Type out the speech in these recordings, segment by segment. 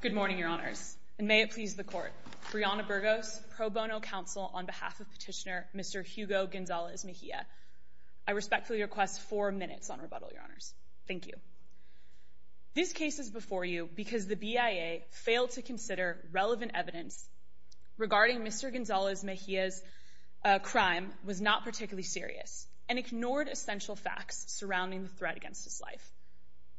Good morning, Your Honors, and may it please the Court, Brianna Burgos, Pro Bono Counsel on behalf of Petitioner Mr. Hugo Gonzalez Mejia, I respectfully request four minutes on rebuttal, Your Honors. Thank you. This case is before you because the BIA failed to consider relevant evidence regarding Mr. and ignored essential facts surrounding the threat against his life.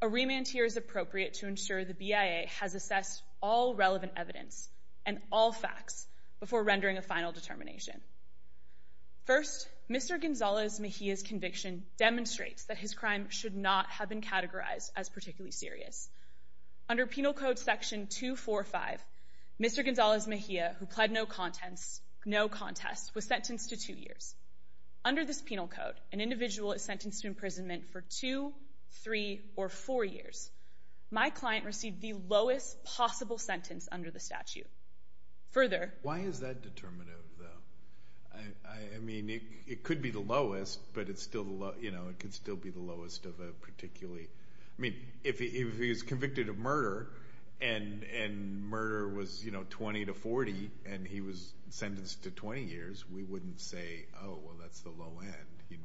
A remand here is appropriate to ensure the BIA has assessed all relevant evidence and all facts before rendering a final determination. First, Mr. Gonzalez Mejia's conviction demonstrates that his crime should not have been categorized as particularly serious. Under Penal Code Section 245, Mr. Gonzalez Mejia, who pled no contest, was sentenced to two years. Under this penal code, an individual is sentenced to imprisonment for two, three, or four years. My client received the lowest possible sentence under the statute. Further— Why is that determinative, though? I mean, it could be the lowest, but it's still, you know, it could still be the lowest of a particularly—I mean, if he was convicted of murder and murder was, you know, 20 to 40 and he was sentenced to 20 years, we wouldn't say, oh, well, that's the low end.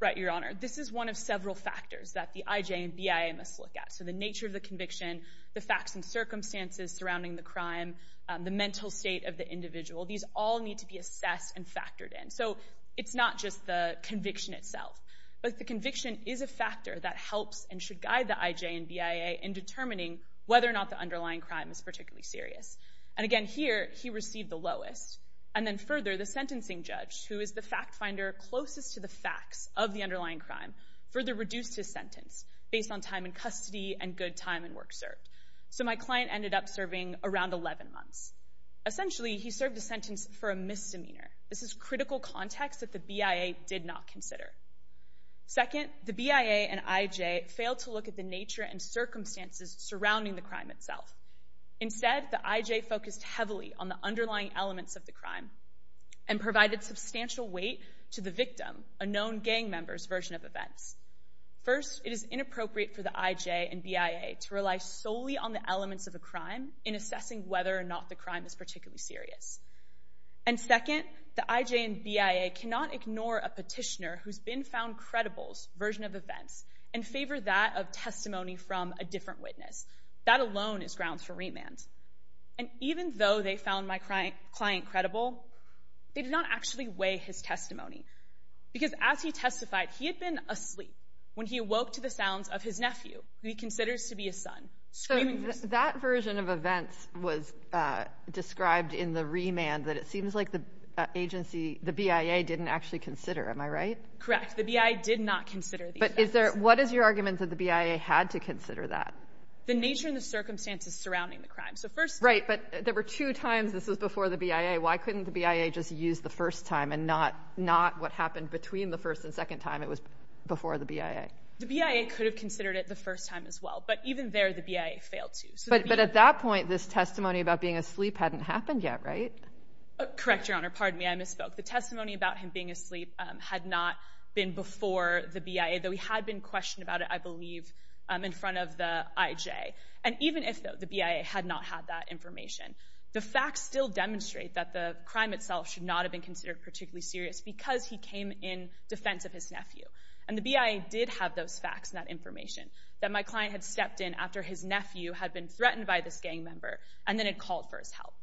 Right, Your Honor. This is one of several factors that the IJ and BIA must look at, so the nature of the conviction, the facts and circumstances surrounding the crime, the mental state of the individual. These all need to be assessed and factored in. So it's not just the conviction itself, but the conviction is a factor that helps and should guide the IJ and BIA in determining whether or not the underlying crime is particularly serious. And again, here, he received the lowest. And then further, the sentencing judge, who is the fact finder closest to the facts of the underlying crime, further reduced his sentence based on time in custody and good time and work served. So my client ended up serving around 11 months. Essentially, he served a sentence for a misdemeanor. This is critical context that the BIA did not consider. Second, the BIA and IJ failed to look at the nature and circumstances surrounding the crime itself. Instead, the IJ focused heavily on the underlying elements of the crime and provided substantial weight to the victim, a known gang member's version of events. First, it is inappropriate for the IJ and BIA to rely solely on the elements of a crime in assessing whether or not the crime is particularly serious. And second, the IJ and BIA cannot ignore a petitioner who's been found credible's version of events and favor that of testimony from a different witness. That alone is grounds for remand. And even though they found my client credible, they did not actually weigh his testimony. Because as he testified, he had been asleep when he awoke to the sounds of his nephew, who he considers to be his son, screaming. That version of events was described in the remand that it seems like the agency, the BIA didn't actually consider. Am I right? Correct. The BIA did not consider. But is there, what is your argument that the BIA had to consider that? The nature and the circumstances surrounding the crime. So first... Right, but there were two times this was before the BIA. Why couldn't the BIA just use the first time and not what happened between the first and second time it was before the BIA? The BIA could have considered it the first time as well. But even there, the BIA failed to. But at that point, this testimony about being asleep hadn't happened yet, right? Correct, Your Honor. Pardon me, I misspoke. The testimony about him being asleep had not been before the BIA, though he had been questioned about it, I believe, in front of the IJ. And even if the BIA had not had that information, the facts still demonstrate that the crime itself should not have been considered particularly serious because he came in defense of his nephew. And the BIA did have those facts and that information, that my client had stepped in after his nephew had been threatened by this gang member and then had called for his help.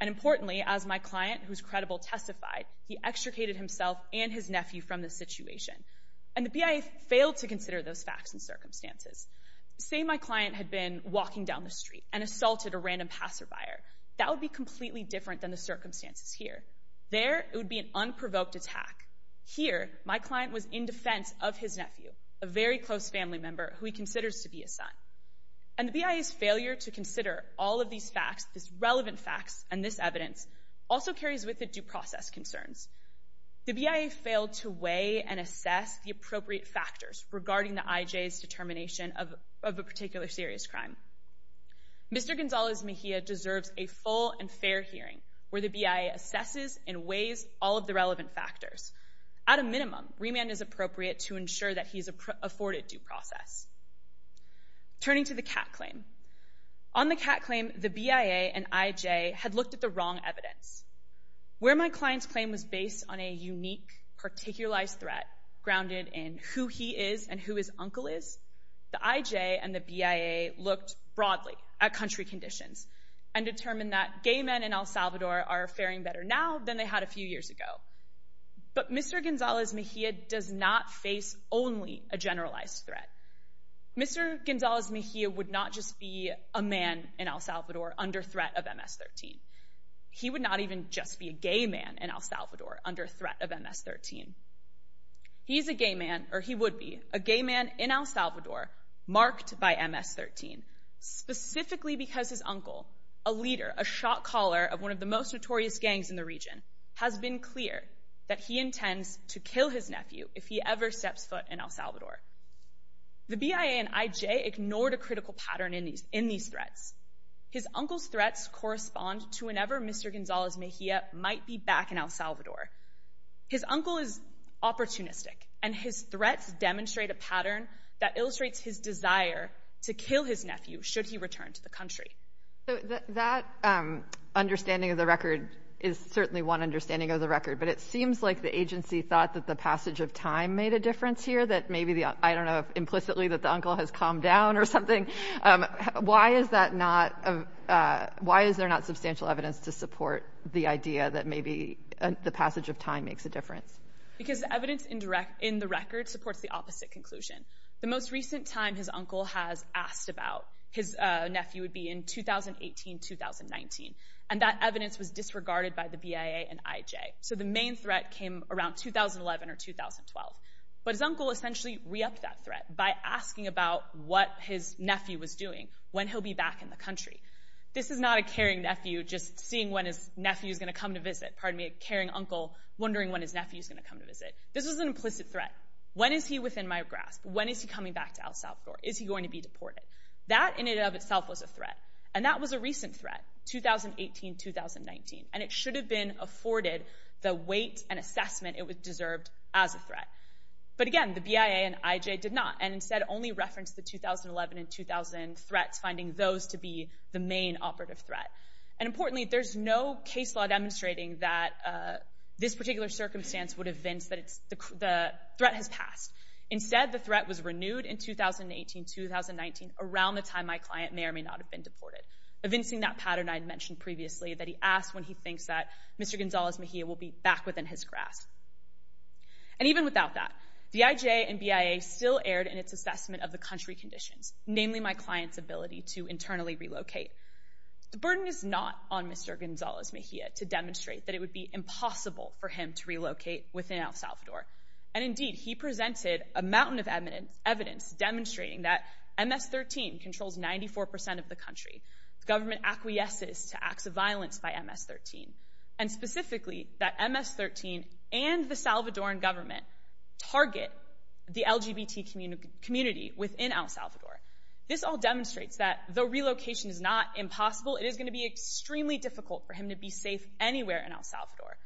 And importantly, as my client, who's credible, testified, he extricated himself and his nephew from the situation. And the BIA failed to consider those facts and circumstances. Say my client had been walking down the street and assaulted a random passerby. That would be completely different than the circumstances here. There it would be an unprovoked attack. Here, my client was in defense of his nephew, a very close family member who he considers to be his son. And the BIA's failure to consider all of these facts, these relevant facts, and this evidence also carries with it due process concerns. The BIA failed to weigh and assess the appropriate factors regarding the IJ's determination of a particular serious crime. Mr. Gonzales Mejia deserves a full and fair hearing where the BIA assesses and weighs all of the relevant factors. At a minimum, remand is appropriate to ensure that he's afforded due process. Turning to the cat claim. On the cat claim, the BIA and IJ had looked at the wrong evidence. Where my client's claim was based on a unique, particularized threat grounded in who he is and who his uncle is, the IJ and the BIA looked broadly at country conditions and determined that gay men in El Salvador are faring better now than they had a few years ago. But Mr. Gonzales Mejia does not face only a generalized threat. Mr. Gonzales Mejia would not just be a man in El Salvador under threat of MS-13. He would not even just be a gay man in El Salvador under threat of MS-13. He's a gay man, or he would be, a gay man in El Salvador marked by MS-13, specifically because his uncle, a leader, a shot caller of one of the most notorious gangs in the region, has been clear that he intends to kill his nephew if he ever steps foot in El Salvador. The BIA and IJ ignored a critical pattern in these threats. His uncle's threats correspond to whenever Mr. Gonzales Mejia might be back in El Salvador. His uncle is opportunistic, and his threats demonstrate a pattern that illustrates his desire to kill his nephew should he return to the country. That understanding of the record is certainly one understanding of the record, but it seems like the agency thought that the passage of time made a difference here, that maybe the, I don't know, implicitly that the uncle has calmed down or something. Why is that not, why is there not substantial evidence to support the idea that maybe the passage of time makes a difference? Because evidence in the record supports the opposite conclusion. The most recent time his uncle has asked about his nephew would be in 2018-2019, and that evidence was disregarded by the BIA and IJ. So the main threat came around 2011 or 2012. But his uncle essentially re-upped that threat by asking about what his nephew was doing, when he'll be back in the country. This is not a caring nephew just seeing when his nephew is going to come to visit, pardon me, a caring uncle wondering when his nephew is going to come to visit. This was an implicit threat. When is he within my grasp? When is he coming back to El Salvador? Is he going to be deported? That in and of itself was a threat, and that was a recent threat, 2018-2019, and it should have been afforded the weight and assessment it deserved as a threat. But again, the BIA and IJ did not, and instead only referenced the 2011 and 2000 threats, finding those to be the main operative threat. And importantly, there's no case law demonstrating that this particular circumstance would evince that the threat has passed. Instead, the threat was renewed in 2018-2019, around the time my client may or may not have been deported. Evincing that pattern I had mentioned previously, that he asks when he thinks that Mr. Gonzalez-Mejia will be back within his grasp. And even without that, the IJ and BIA still erred in its assessment of the country conditions, namely my client's ability to internally relocate. The burden is not on Mr. Gonzalez-Mejia to demonstrate that it would be impossible for him to relocate within El Salvador, and indeed, he presented a mountain of evidence demonstrating that MS-13 controls 94% of the country. The government acquiesces to acts of violence by MS-13. And specifically, that MS-13 and the Salvadoran government target the LGBT community within El Salvador. This all demonstrates that, though relocation is not impossible, it is going to be extremely difficult for him to be safe anywhere in El Salvador.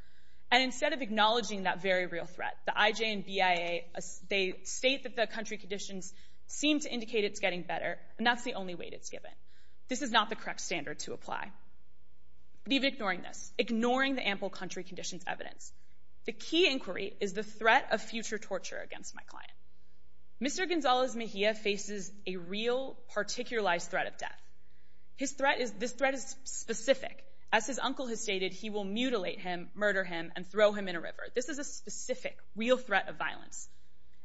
And instead of acknowledging that very real threat, the IJ and BIA, they state that the country conditions seem to indicate it's getting better, and that's the only weight it's given. This is not the correct standard to apply. Leave ignoring this, ignoring the ample country conditions evidence. The key inquiry is the threat of future torture against my client. Mr. Gonzalez-Mejia faces a real, particularized threat of death. His threat is specific. As his uncle has stated, he will mutilate him, murder him, and throw him in a river. This is a specific, real threat of violence.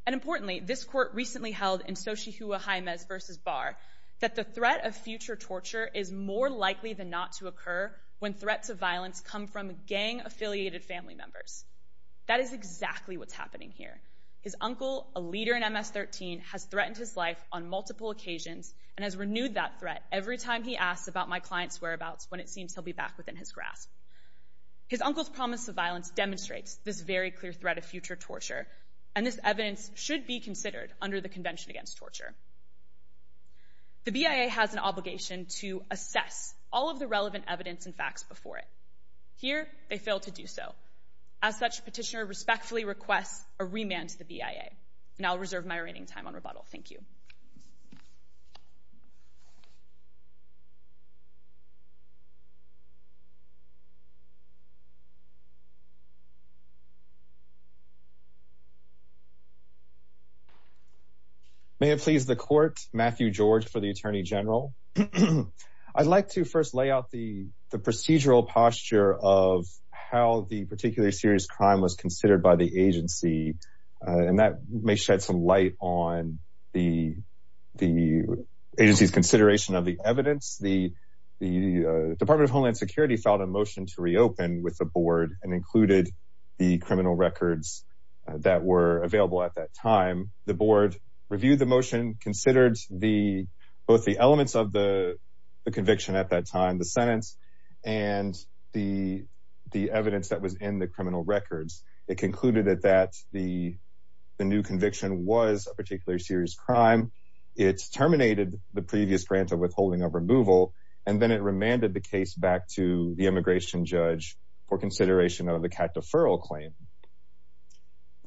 And importantly, this court recently held in Xochihuahemez v. Barr that the threat of future torture is more likely than not to occur when threats of violence come from gang-affiliated family members. That is exactly what's happening here. His uncle, a leader in MS-13, has threatened his life on multiple occasions and has renewed that threat every time he asks about my client's whereabouts when it seems he'll be back within his grasp. His uncle's promise of violence demonstrates this very clear threat of future torture. And this evidence should be considered under the Convention Against Torture. The BIA has an obligation to assess all of the relevant evidence and facts before it. Here, they fail to do so. As such, Petitioner respectfully requests a remand to the BIA. And I'll reserve my remaining time on rebuttal. Thank you. May it please the Court, Matthew George for the Attorney General. I'd like to first lay out the procedural posture of how the particularly serious crime was considered by the agency. And that may shed some light on the agency's consideration of the evidence. The Department of Homeland Security filed a motion to reopen with the board and included the criminal records that were available at that time. The board reviewed the motion, considered both the elements of the conviction at that time, the sentence, and the evidence that was in the criminal records. It concluded that the new conviction was a particularly serious crime. It terminated the previous grant of withholding of removal, and then it remanded the case back to the immigration judge for consideration of the cat deferral claim.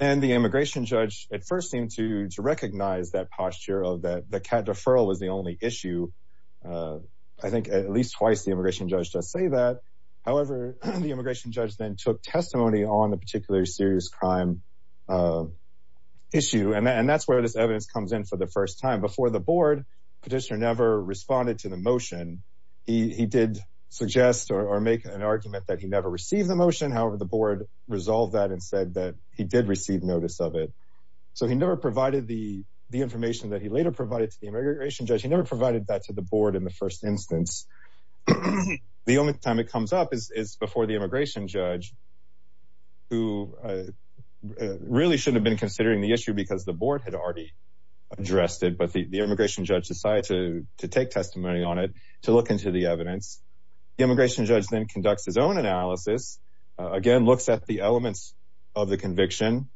And the immigration judge at first seemed to recognize that posture of that the cat deferral was the only issue. I think at least twice the immigration judge does say that. However, the immigration judge then took testimony on the particularly serious crime issue. And that's where this evidence comes in for the first time. Before the board, Petitioner never responded to the motion. He did suggest or make an argument that he never received the motion. However, the board resolved that and said that he did receive notice of it. So he never provided the information that he later provided to the immigration judge. He never provided that to the board in the first instance. The only time it comes up is before the immigration judge, who really shouldn't have been considering the issue because the board had already addressed it. But the immigration judge decided to take testimony on it to look into the evidence. The immigration judge then conducts his own analysis, again, looks at the elements of the conviction,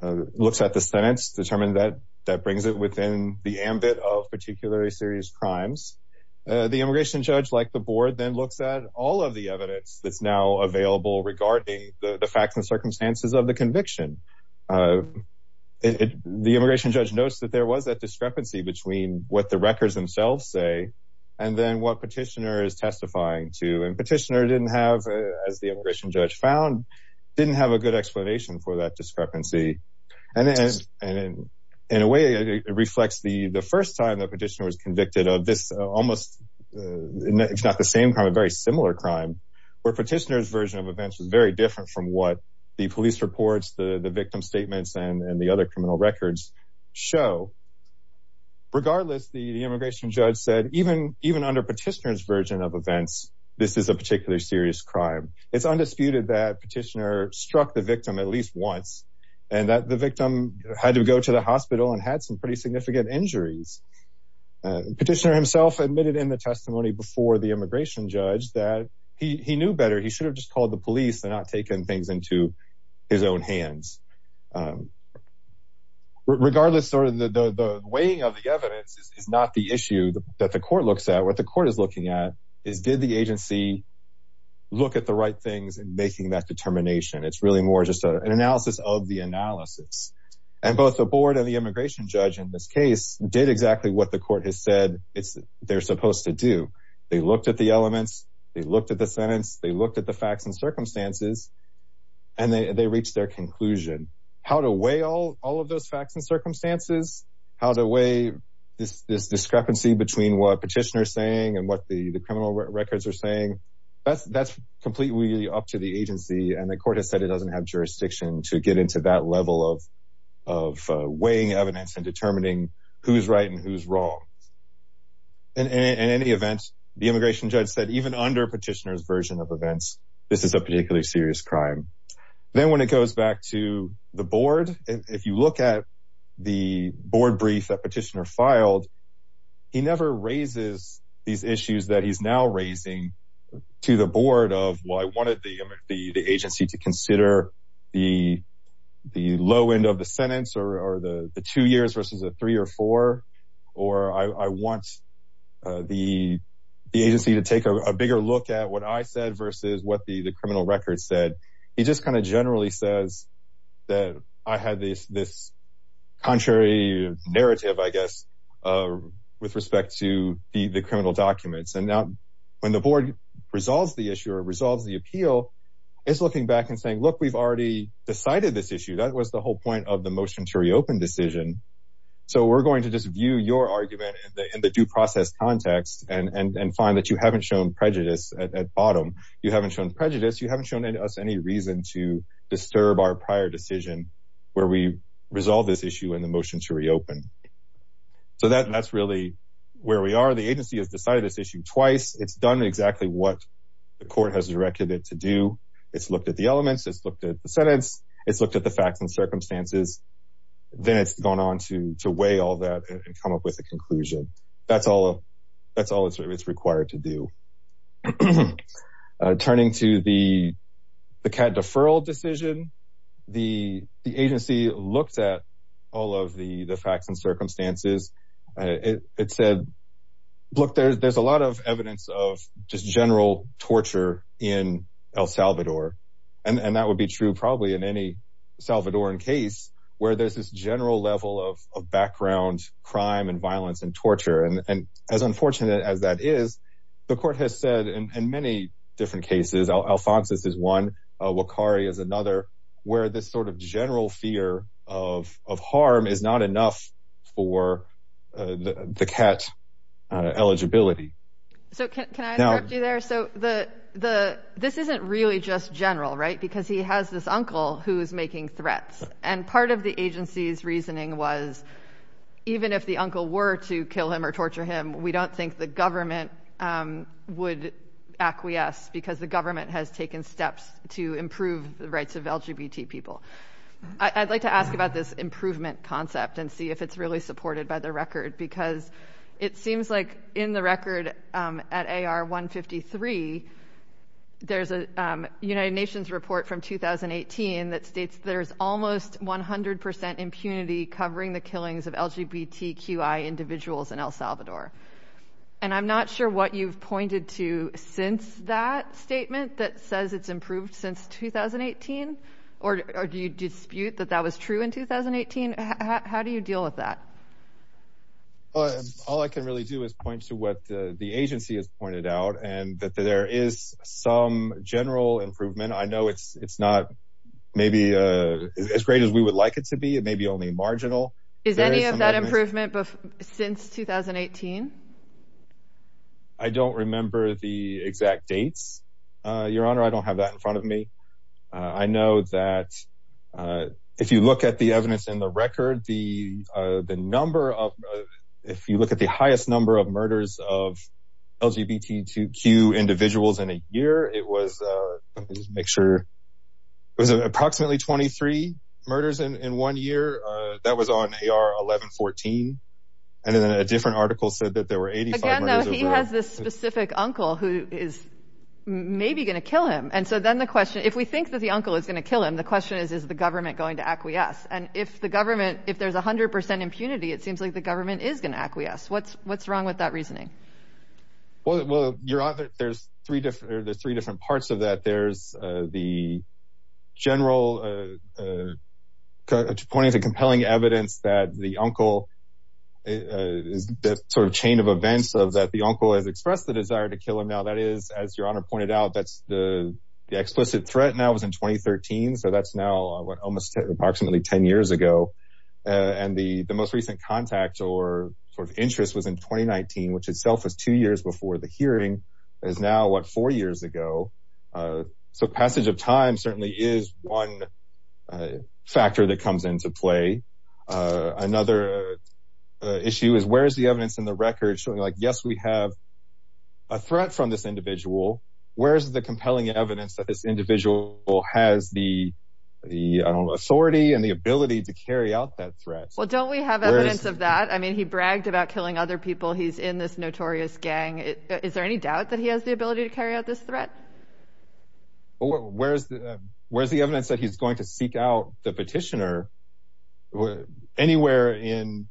looks at the sentence, determined that that brings it within the ambit of particularly serious crimes. The immigration judge, like the board, then looks at all of the evidence that's now available regarding the facts and circumstances of the conviction. The immigration judge notes that there was a discrepancy between what the records themselves say and then what Petitioner is testifying to. And Petitioner didn't have, as the immigration judge found, didn't have a good explanation for that discrepancy. And in a way, it reflects the first time that Petitioner was convicted of this almost, if not the same crime, a very similar crime, where Petitioner's version of events was very similar to the victim statements and the other criminal records show. Regardless, the immigration judge said, even under Petitioner's version of events, this is a particularly serious crime. It's undisputed that Petitioner struck the victim at least once and that the victim had to go to the hospital and had some pretty significant injuries. Petitioner himself admitted in the testimony before the immigration judge that he knew better. He should have just called the police and not taken things into his own hands. Regardless, the weighing of the evidence is not the issue that the court looks at. What the court is looking at is, did the agency look at the right things in making that determination? It's really more just an analysis of the analysis. And both the board and the immigration judge in this case did exactly what the court has said they're supposed to do. They looked at the elements. They looked at the sentence. They looked at the facts and circumstances and they reached their conclusion. How to weigh all of those facts and circumstances, how to weigh this discrepancy between what Petitioner is saying and what the criminal records are saying, that's completely up to the agency and the court has said it doesn't have jurisdiction to get into that level of weighing evidence and determining who's right and who's wrong. In any event, the immigration judge said, even under Petitioner's version of events, this is a particularly serious crime. Then when it goes back to the board, if you look at the board brief that Petitioner filed, he never raises these issues that he's now raising to the board of, well, I wanted the agency to consider the low end of the sentence or the two years versus a three or four. Or I want the agency to take a bigger look at what I said versus what the criminal records said. He just kind of generally says that I had this contrary narrative, I guess, with respect to the criminal documents. And now when the board resolves the issue or resolves the appeal, it's looking back and saying, look, we've already decided this issue. That was the whole point of the motion to reopen decision. So we're going to just view your argument in the due process context and find that you haven't shown prejudice at bottom. You haven't shown prejudice. You haven't shown us any reason to disturb our prior decision where we resolve this issue in the motion to reopen. So that's really where we are. The agency has decided this issue twice. It's done exactly what the court has directed it to do. It's looked at the elements, it's looked at the sentence, it's looked at the facts and gone on to weigh all that and come up with a conclusion. That's all it's required to do. Turning to the CAD deferral decision, the agency looked at all of the facts and circumstances. It said, look, there's a lot of evidence of just general torture in El Salvador. And that would be true probably in any Salvadoran case where there's this general level of background crime and violence and torture. And as unfortunate as that is, the court has said in many different cases, Alfonso's is one, Wakari is another, where this sort of general fear of harm is not enough for the CAT eligibility. So can I interrupt you there? So this isn't really just general, right, because he has this uncle who is making threats. And part of the agency's reasoning was even if the uncle were to kill him or torture him, we don't think the government would acquiesce because the government has taken steps to improve the rights of LGBT people. I'd like to ask about this improvement concept and see if it's really supported by the record, because it seems like in the record at AR 153, there's a United Nations report from 2018 that states there's almost 100 percent impunity covering the killings of LGBTQI individuals in El Salvador. And I'm not sure what you've pointed to since that statement that says it's improved since 2018, or do you dispute that that was true in 2018? How do you deal with that? All I can really do is point to what the agency has pointed out and that there is some general improvement. I know it's not maybe as great as we would like it to be. It may be only marginal. Is any of that improvement since 2018? I don't remember the exact dates, Your Honor, I don't have that in front of me. I know that if you look at the evidence in the record, the number of if you look at the picture, it was approximately 23 murders in one year. That was on AR 1114. And then a different article said that there were 85 murders. He has this specific uncle who is maybe going to kill him. And so then the question, if we think that the uncle is going to kill him, the question is, is the government going to acquiesce? And if the government if there's 100 percent impunity, it seems like the government is going to acquiesce. What's what's wrong with that reasoning? Well, Your Honor, there's three different there's three different parts of that. There's the general point of compelling evidence that the uncle is this sort of chain of events of that the uncle has expressed the desire to kill him. Now, that is, as Your Honor pointed out, that's the explicit threat now was in 2013. So that's now almost approximately 10 years ago. And the the most recent contact or sort of interest was in 2019, which itself was two years before the hearing is now what, four years ago. So passage of time certainly is one factor that comes into play. Another issue is where is the evidence in the record showing like, yes, we have a threat from this individual. Where is the compelling evidence that this individual has the the authority and the ability to carry out that threat? Well, don't we have evidence of that? I mean, he bragged about killing other people. He's in this notorious gang. Is there any doubt that he has the ability to carry out this threat? Well, where's the where's the evidence that he's going to seek out the petitioner anywhere in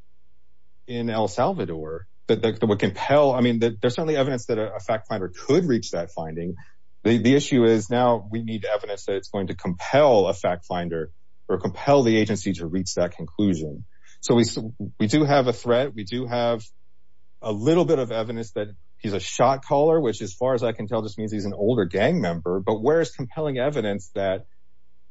in El Salvador that would compel? I mean, there's certainly evidence that a fact finder could reach that finding. The issue is now we need evidence that it's going to compel a fact finder or compel the agency to reach that conclusion. So we do have a threat. We do have a little bit of evidence that he's a shot caller, which as far as I can tell, just means he's an older gang member. But where is compelling evidence that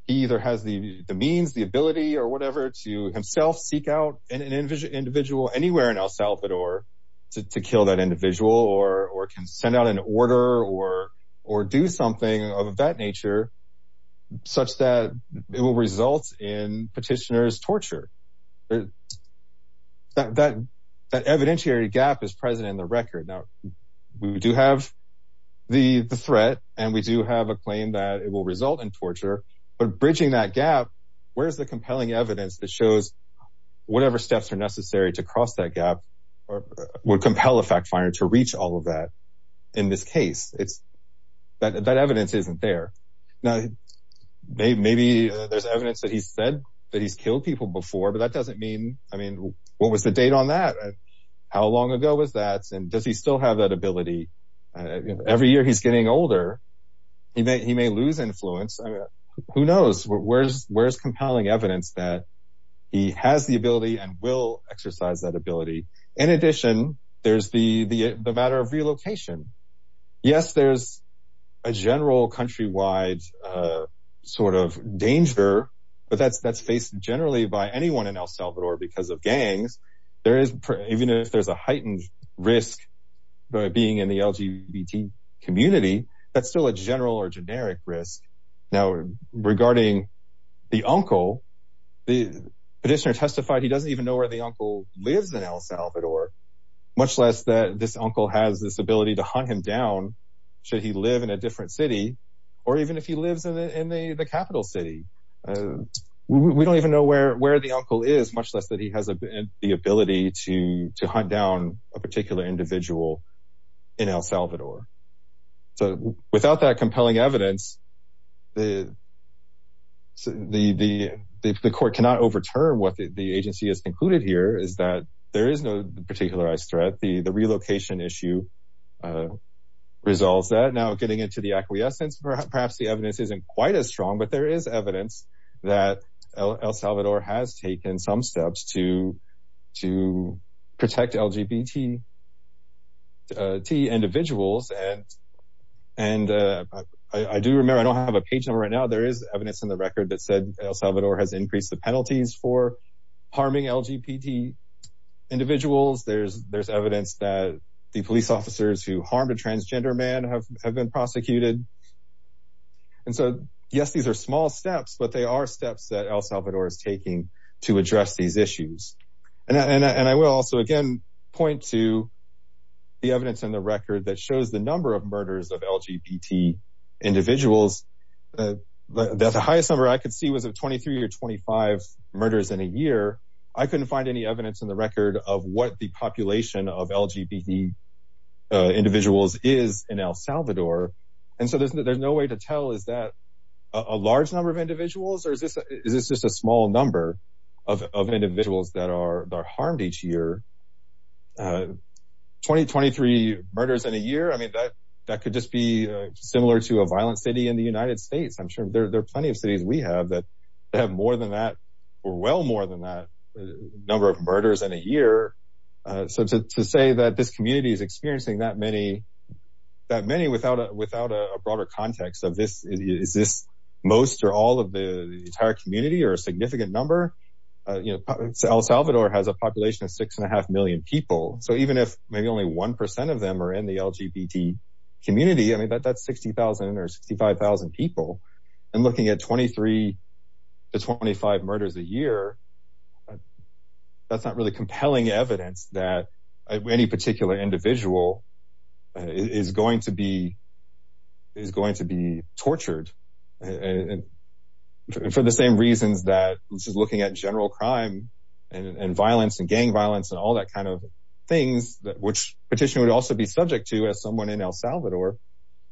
he either has the means, the ability or whatever to himself seek out an individual anywhere in El Salvador to kill that individual or can send out an order or or do something of that nature such that it will result in petitioner's torture? That that evidentiary gap is present in the record. Now, we do have the threat and we do have a claim that it will result in torture. But bridging that gap, where's the compelling evidence that shows whatever steps are necessary to cross that gap or would compel a fact finder to reach all of that? In this case, it's that that evidence isn't there. Now, maybe there's evidence that he said that he's killed people before, but that doesn't mean I mean, what was the date on that? How long ago was that? And does he still have that ability? Every year he's getting older, he may he may lose influence. Who knows where's where's compelling evidence that he has the ability and will exercise that ability? In addition, there's the the matter of relocation. Yes, there's a general countrywide sort of danger, but that's that's faced generally by anyone in El Salvador because of gangs. There is even if there's a heightened risk being in the LGBT community, that's still a general or generic risk. Now, regarding the uncle, the petitioner testified he doesn't even know where the uncle lives in El Salvador, much less that this uncle has this ability to hunt him down. Should he live in a different city or even if he lives in the capital city? We don't even know where where the uncle is, much less that he has the ability to to hunt down a particular individual in El Salvador. So without that compelling evidence, the. So the the the court cannot overturn what the agency has concluded here is that there is no particularized threat, the the relocation issue resolves that now getting into the acquiescence, perhaps the evidence isn't quite as strong, but there is evidence that El Salvador has taken some steps to to protect LGBT. T individuals and and I do remember I don't have a page number right now, there is evidence in the record that said El Salvador has increased the penalties for harming LGBT individuals. There's there's evidence that the police officers who harmed a transgender man have have been prosecuted. And so, yes, these are small steps, but they are steps that El Salvador is taking to the evidence in the record that shows the number of murders of LGBT individuals. That's the highest number I could see was a twenty three or twenty five murders in a year. I couldn't find any evidence in the record of what the population of LGBT individuals is in El Salvador. And so there's no way to tell. Is that a large number of individuals or is this is this just a small number of individuals that are harmed each year? Twenty twenty three murders in a year. I mean, that that could just be similar to a violent city in the United States. I'm sure there are plenty of cities we have that have more than that or well more than that number of murders in a year. So to say that this community is experiencing that many that many without a without a broader context of this, is this most or all of the entire community or a significant number? You know, El Salvador has a population of six and a half million people. So even if maybe only one percent of them are in the LGBT community, I mean, that's sixty thousand or sixty five thousand people. And looking at twenty three to twenty five murders a year, that's not really compelling evidence that any particular individual is going to be. Is going to be tortured and for the same reasons that she's looking at general crime and violence and gang violence and all that kind of things, which petition would also be subject to as someone in El Salvador,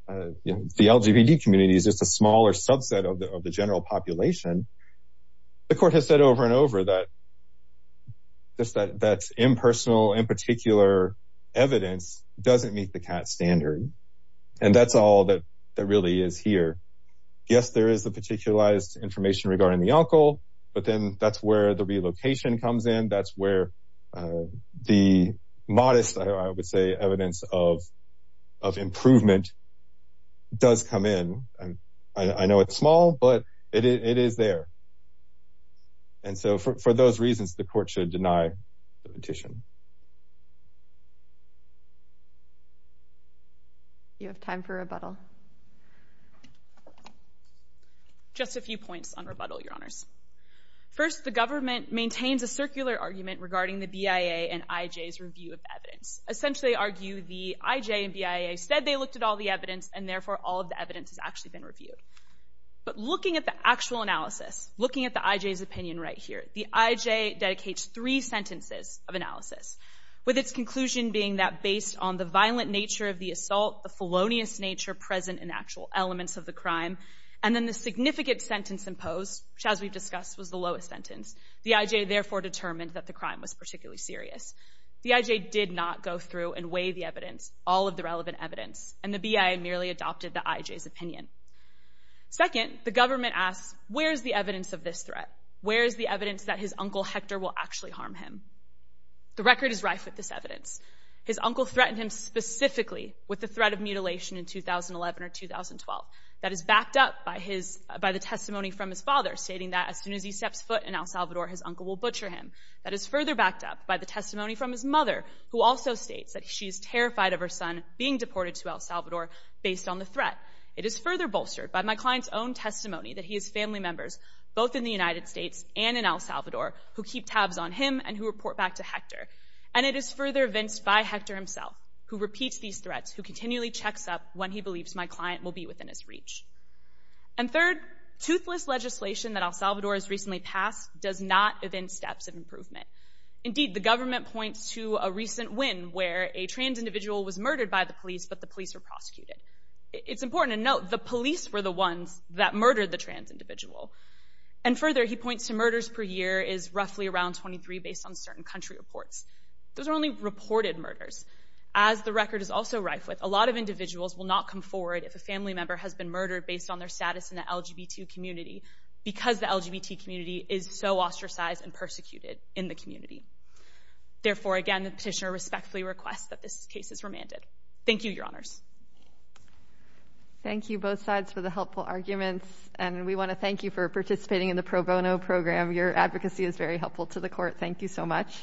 the LGBT community is just a smaller subset of the general population. The court has said over and over that. That's impersonal. In particular, evidence doesn't meet the cat standard, and that's all that that really is here. Yes, there is the particularized information regarding the uncle, but then that's where the relocation comes in. That's where the modest, I would say, evidence of of improvement does come in. I know it's small, but it is there. And so for those reasons, the court should deny the petition. You have time for rebuttal. Just a few points on rebuttal, your honors, first, the government maintains a circular argument regarding the BIA and IJ's review of evidence, essentially argue the IJ and BIA said they looked at all the evidence and therefore all of the evidence has actually been analyzed. Looking at the IJ's opinion right here, the IJ dedicates three sentences of analysis, with its conclusion being that based on the violent nature of the assault, the felonious nature present in actual elements of the crime, and then the significant sentence imposed, which, as we've discussed, was the lowest sentence. The IJ therefore determined that the crime was particularly serious. The IJ did not go through and weigh the evidence, all of the relevant evidence, and the BIA merely adopted the IJ's opinion. Second, the government asks, where's the evidence of this threat? Where is the evidence that his uncle Hector will actually harm him? The record is rife with this evidence. His uncle threatened him specifically with the threat of mutilation in 2011 or 2012. That is backed up by the testimony from his father, stating that as soon as he steps foot in El Salvador, his uncle will butcher him. That is further backed up by the testimony from his mother, who also states that she is terrified of her son being deported to El Salvador based on the threat. It is further bolstered by my client's own testimony that he has family members, both in the United States and in El Salvador, who keep tabs on him and who report back to Hector. And it is further evinced by Hector himself, who repeats these threats, who continually checks up when he believes my client will be within his reach. And third, toothless legislation that El Salvador has recently passed does not evince steps of improvement. Indeed, the government points to a recent win where a trans individual was murdered by the police, but the police were prosecuted. It's important to note the police were the ones that murdered the trans individual. And further, he points to murders per year is roughly around 23 based on certain country reports. Those are only reported murders. As the record is also rife with, a lot of individuals will not come forward if a family member has been murdered based on their status in the LGBT community because the LGBT community is so ostracized and persecuted in the community. Therefore, again, the petitioner respectfully requests that this case is remanded. Thank you, Your Honors. Thank you, both sides, for the helpful arguments, and we want to thank you for participating in the pro bono program. Your advocacy is very helpful to the court. Thank you so much.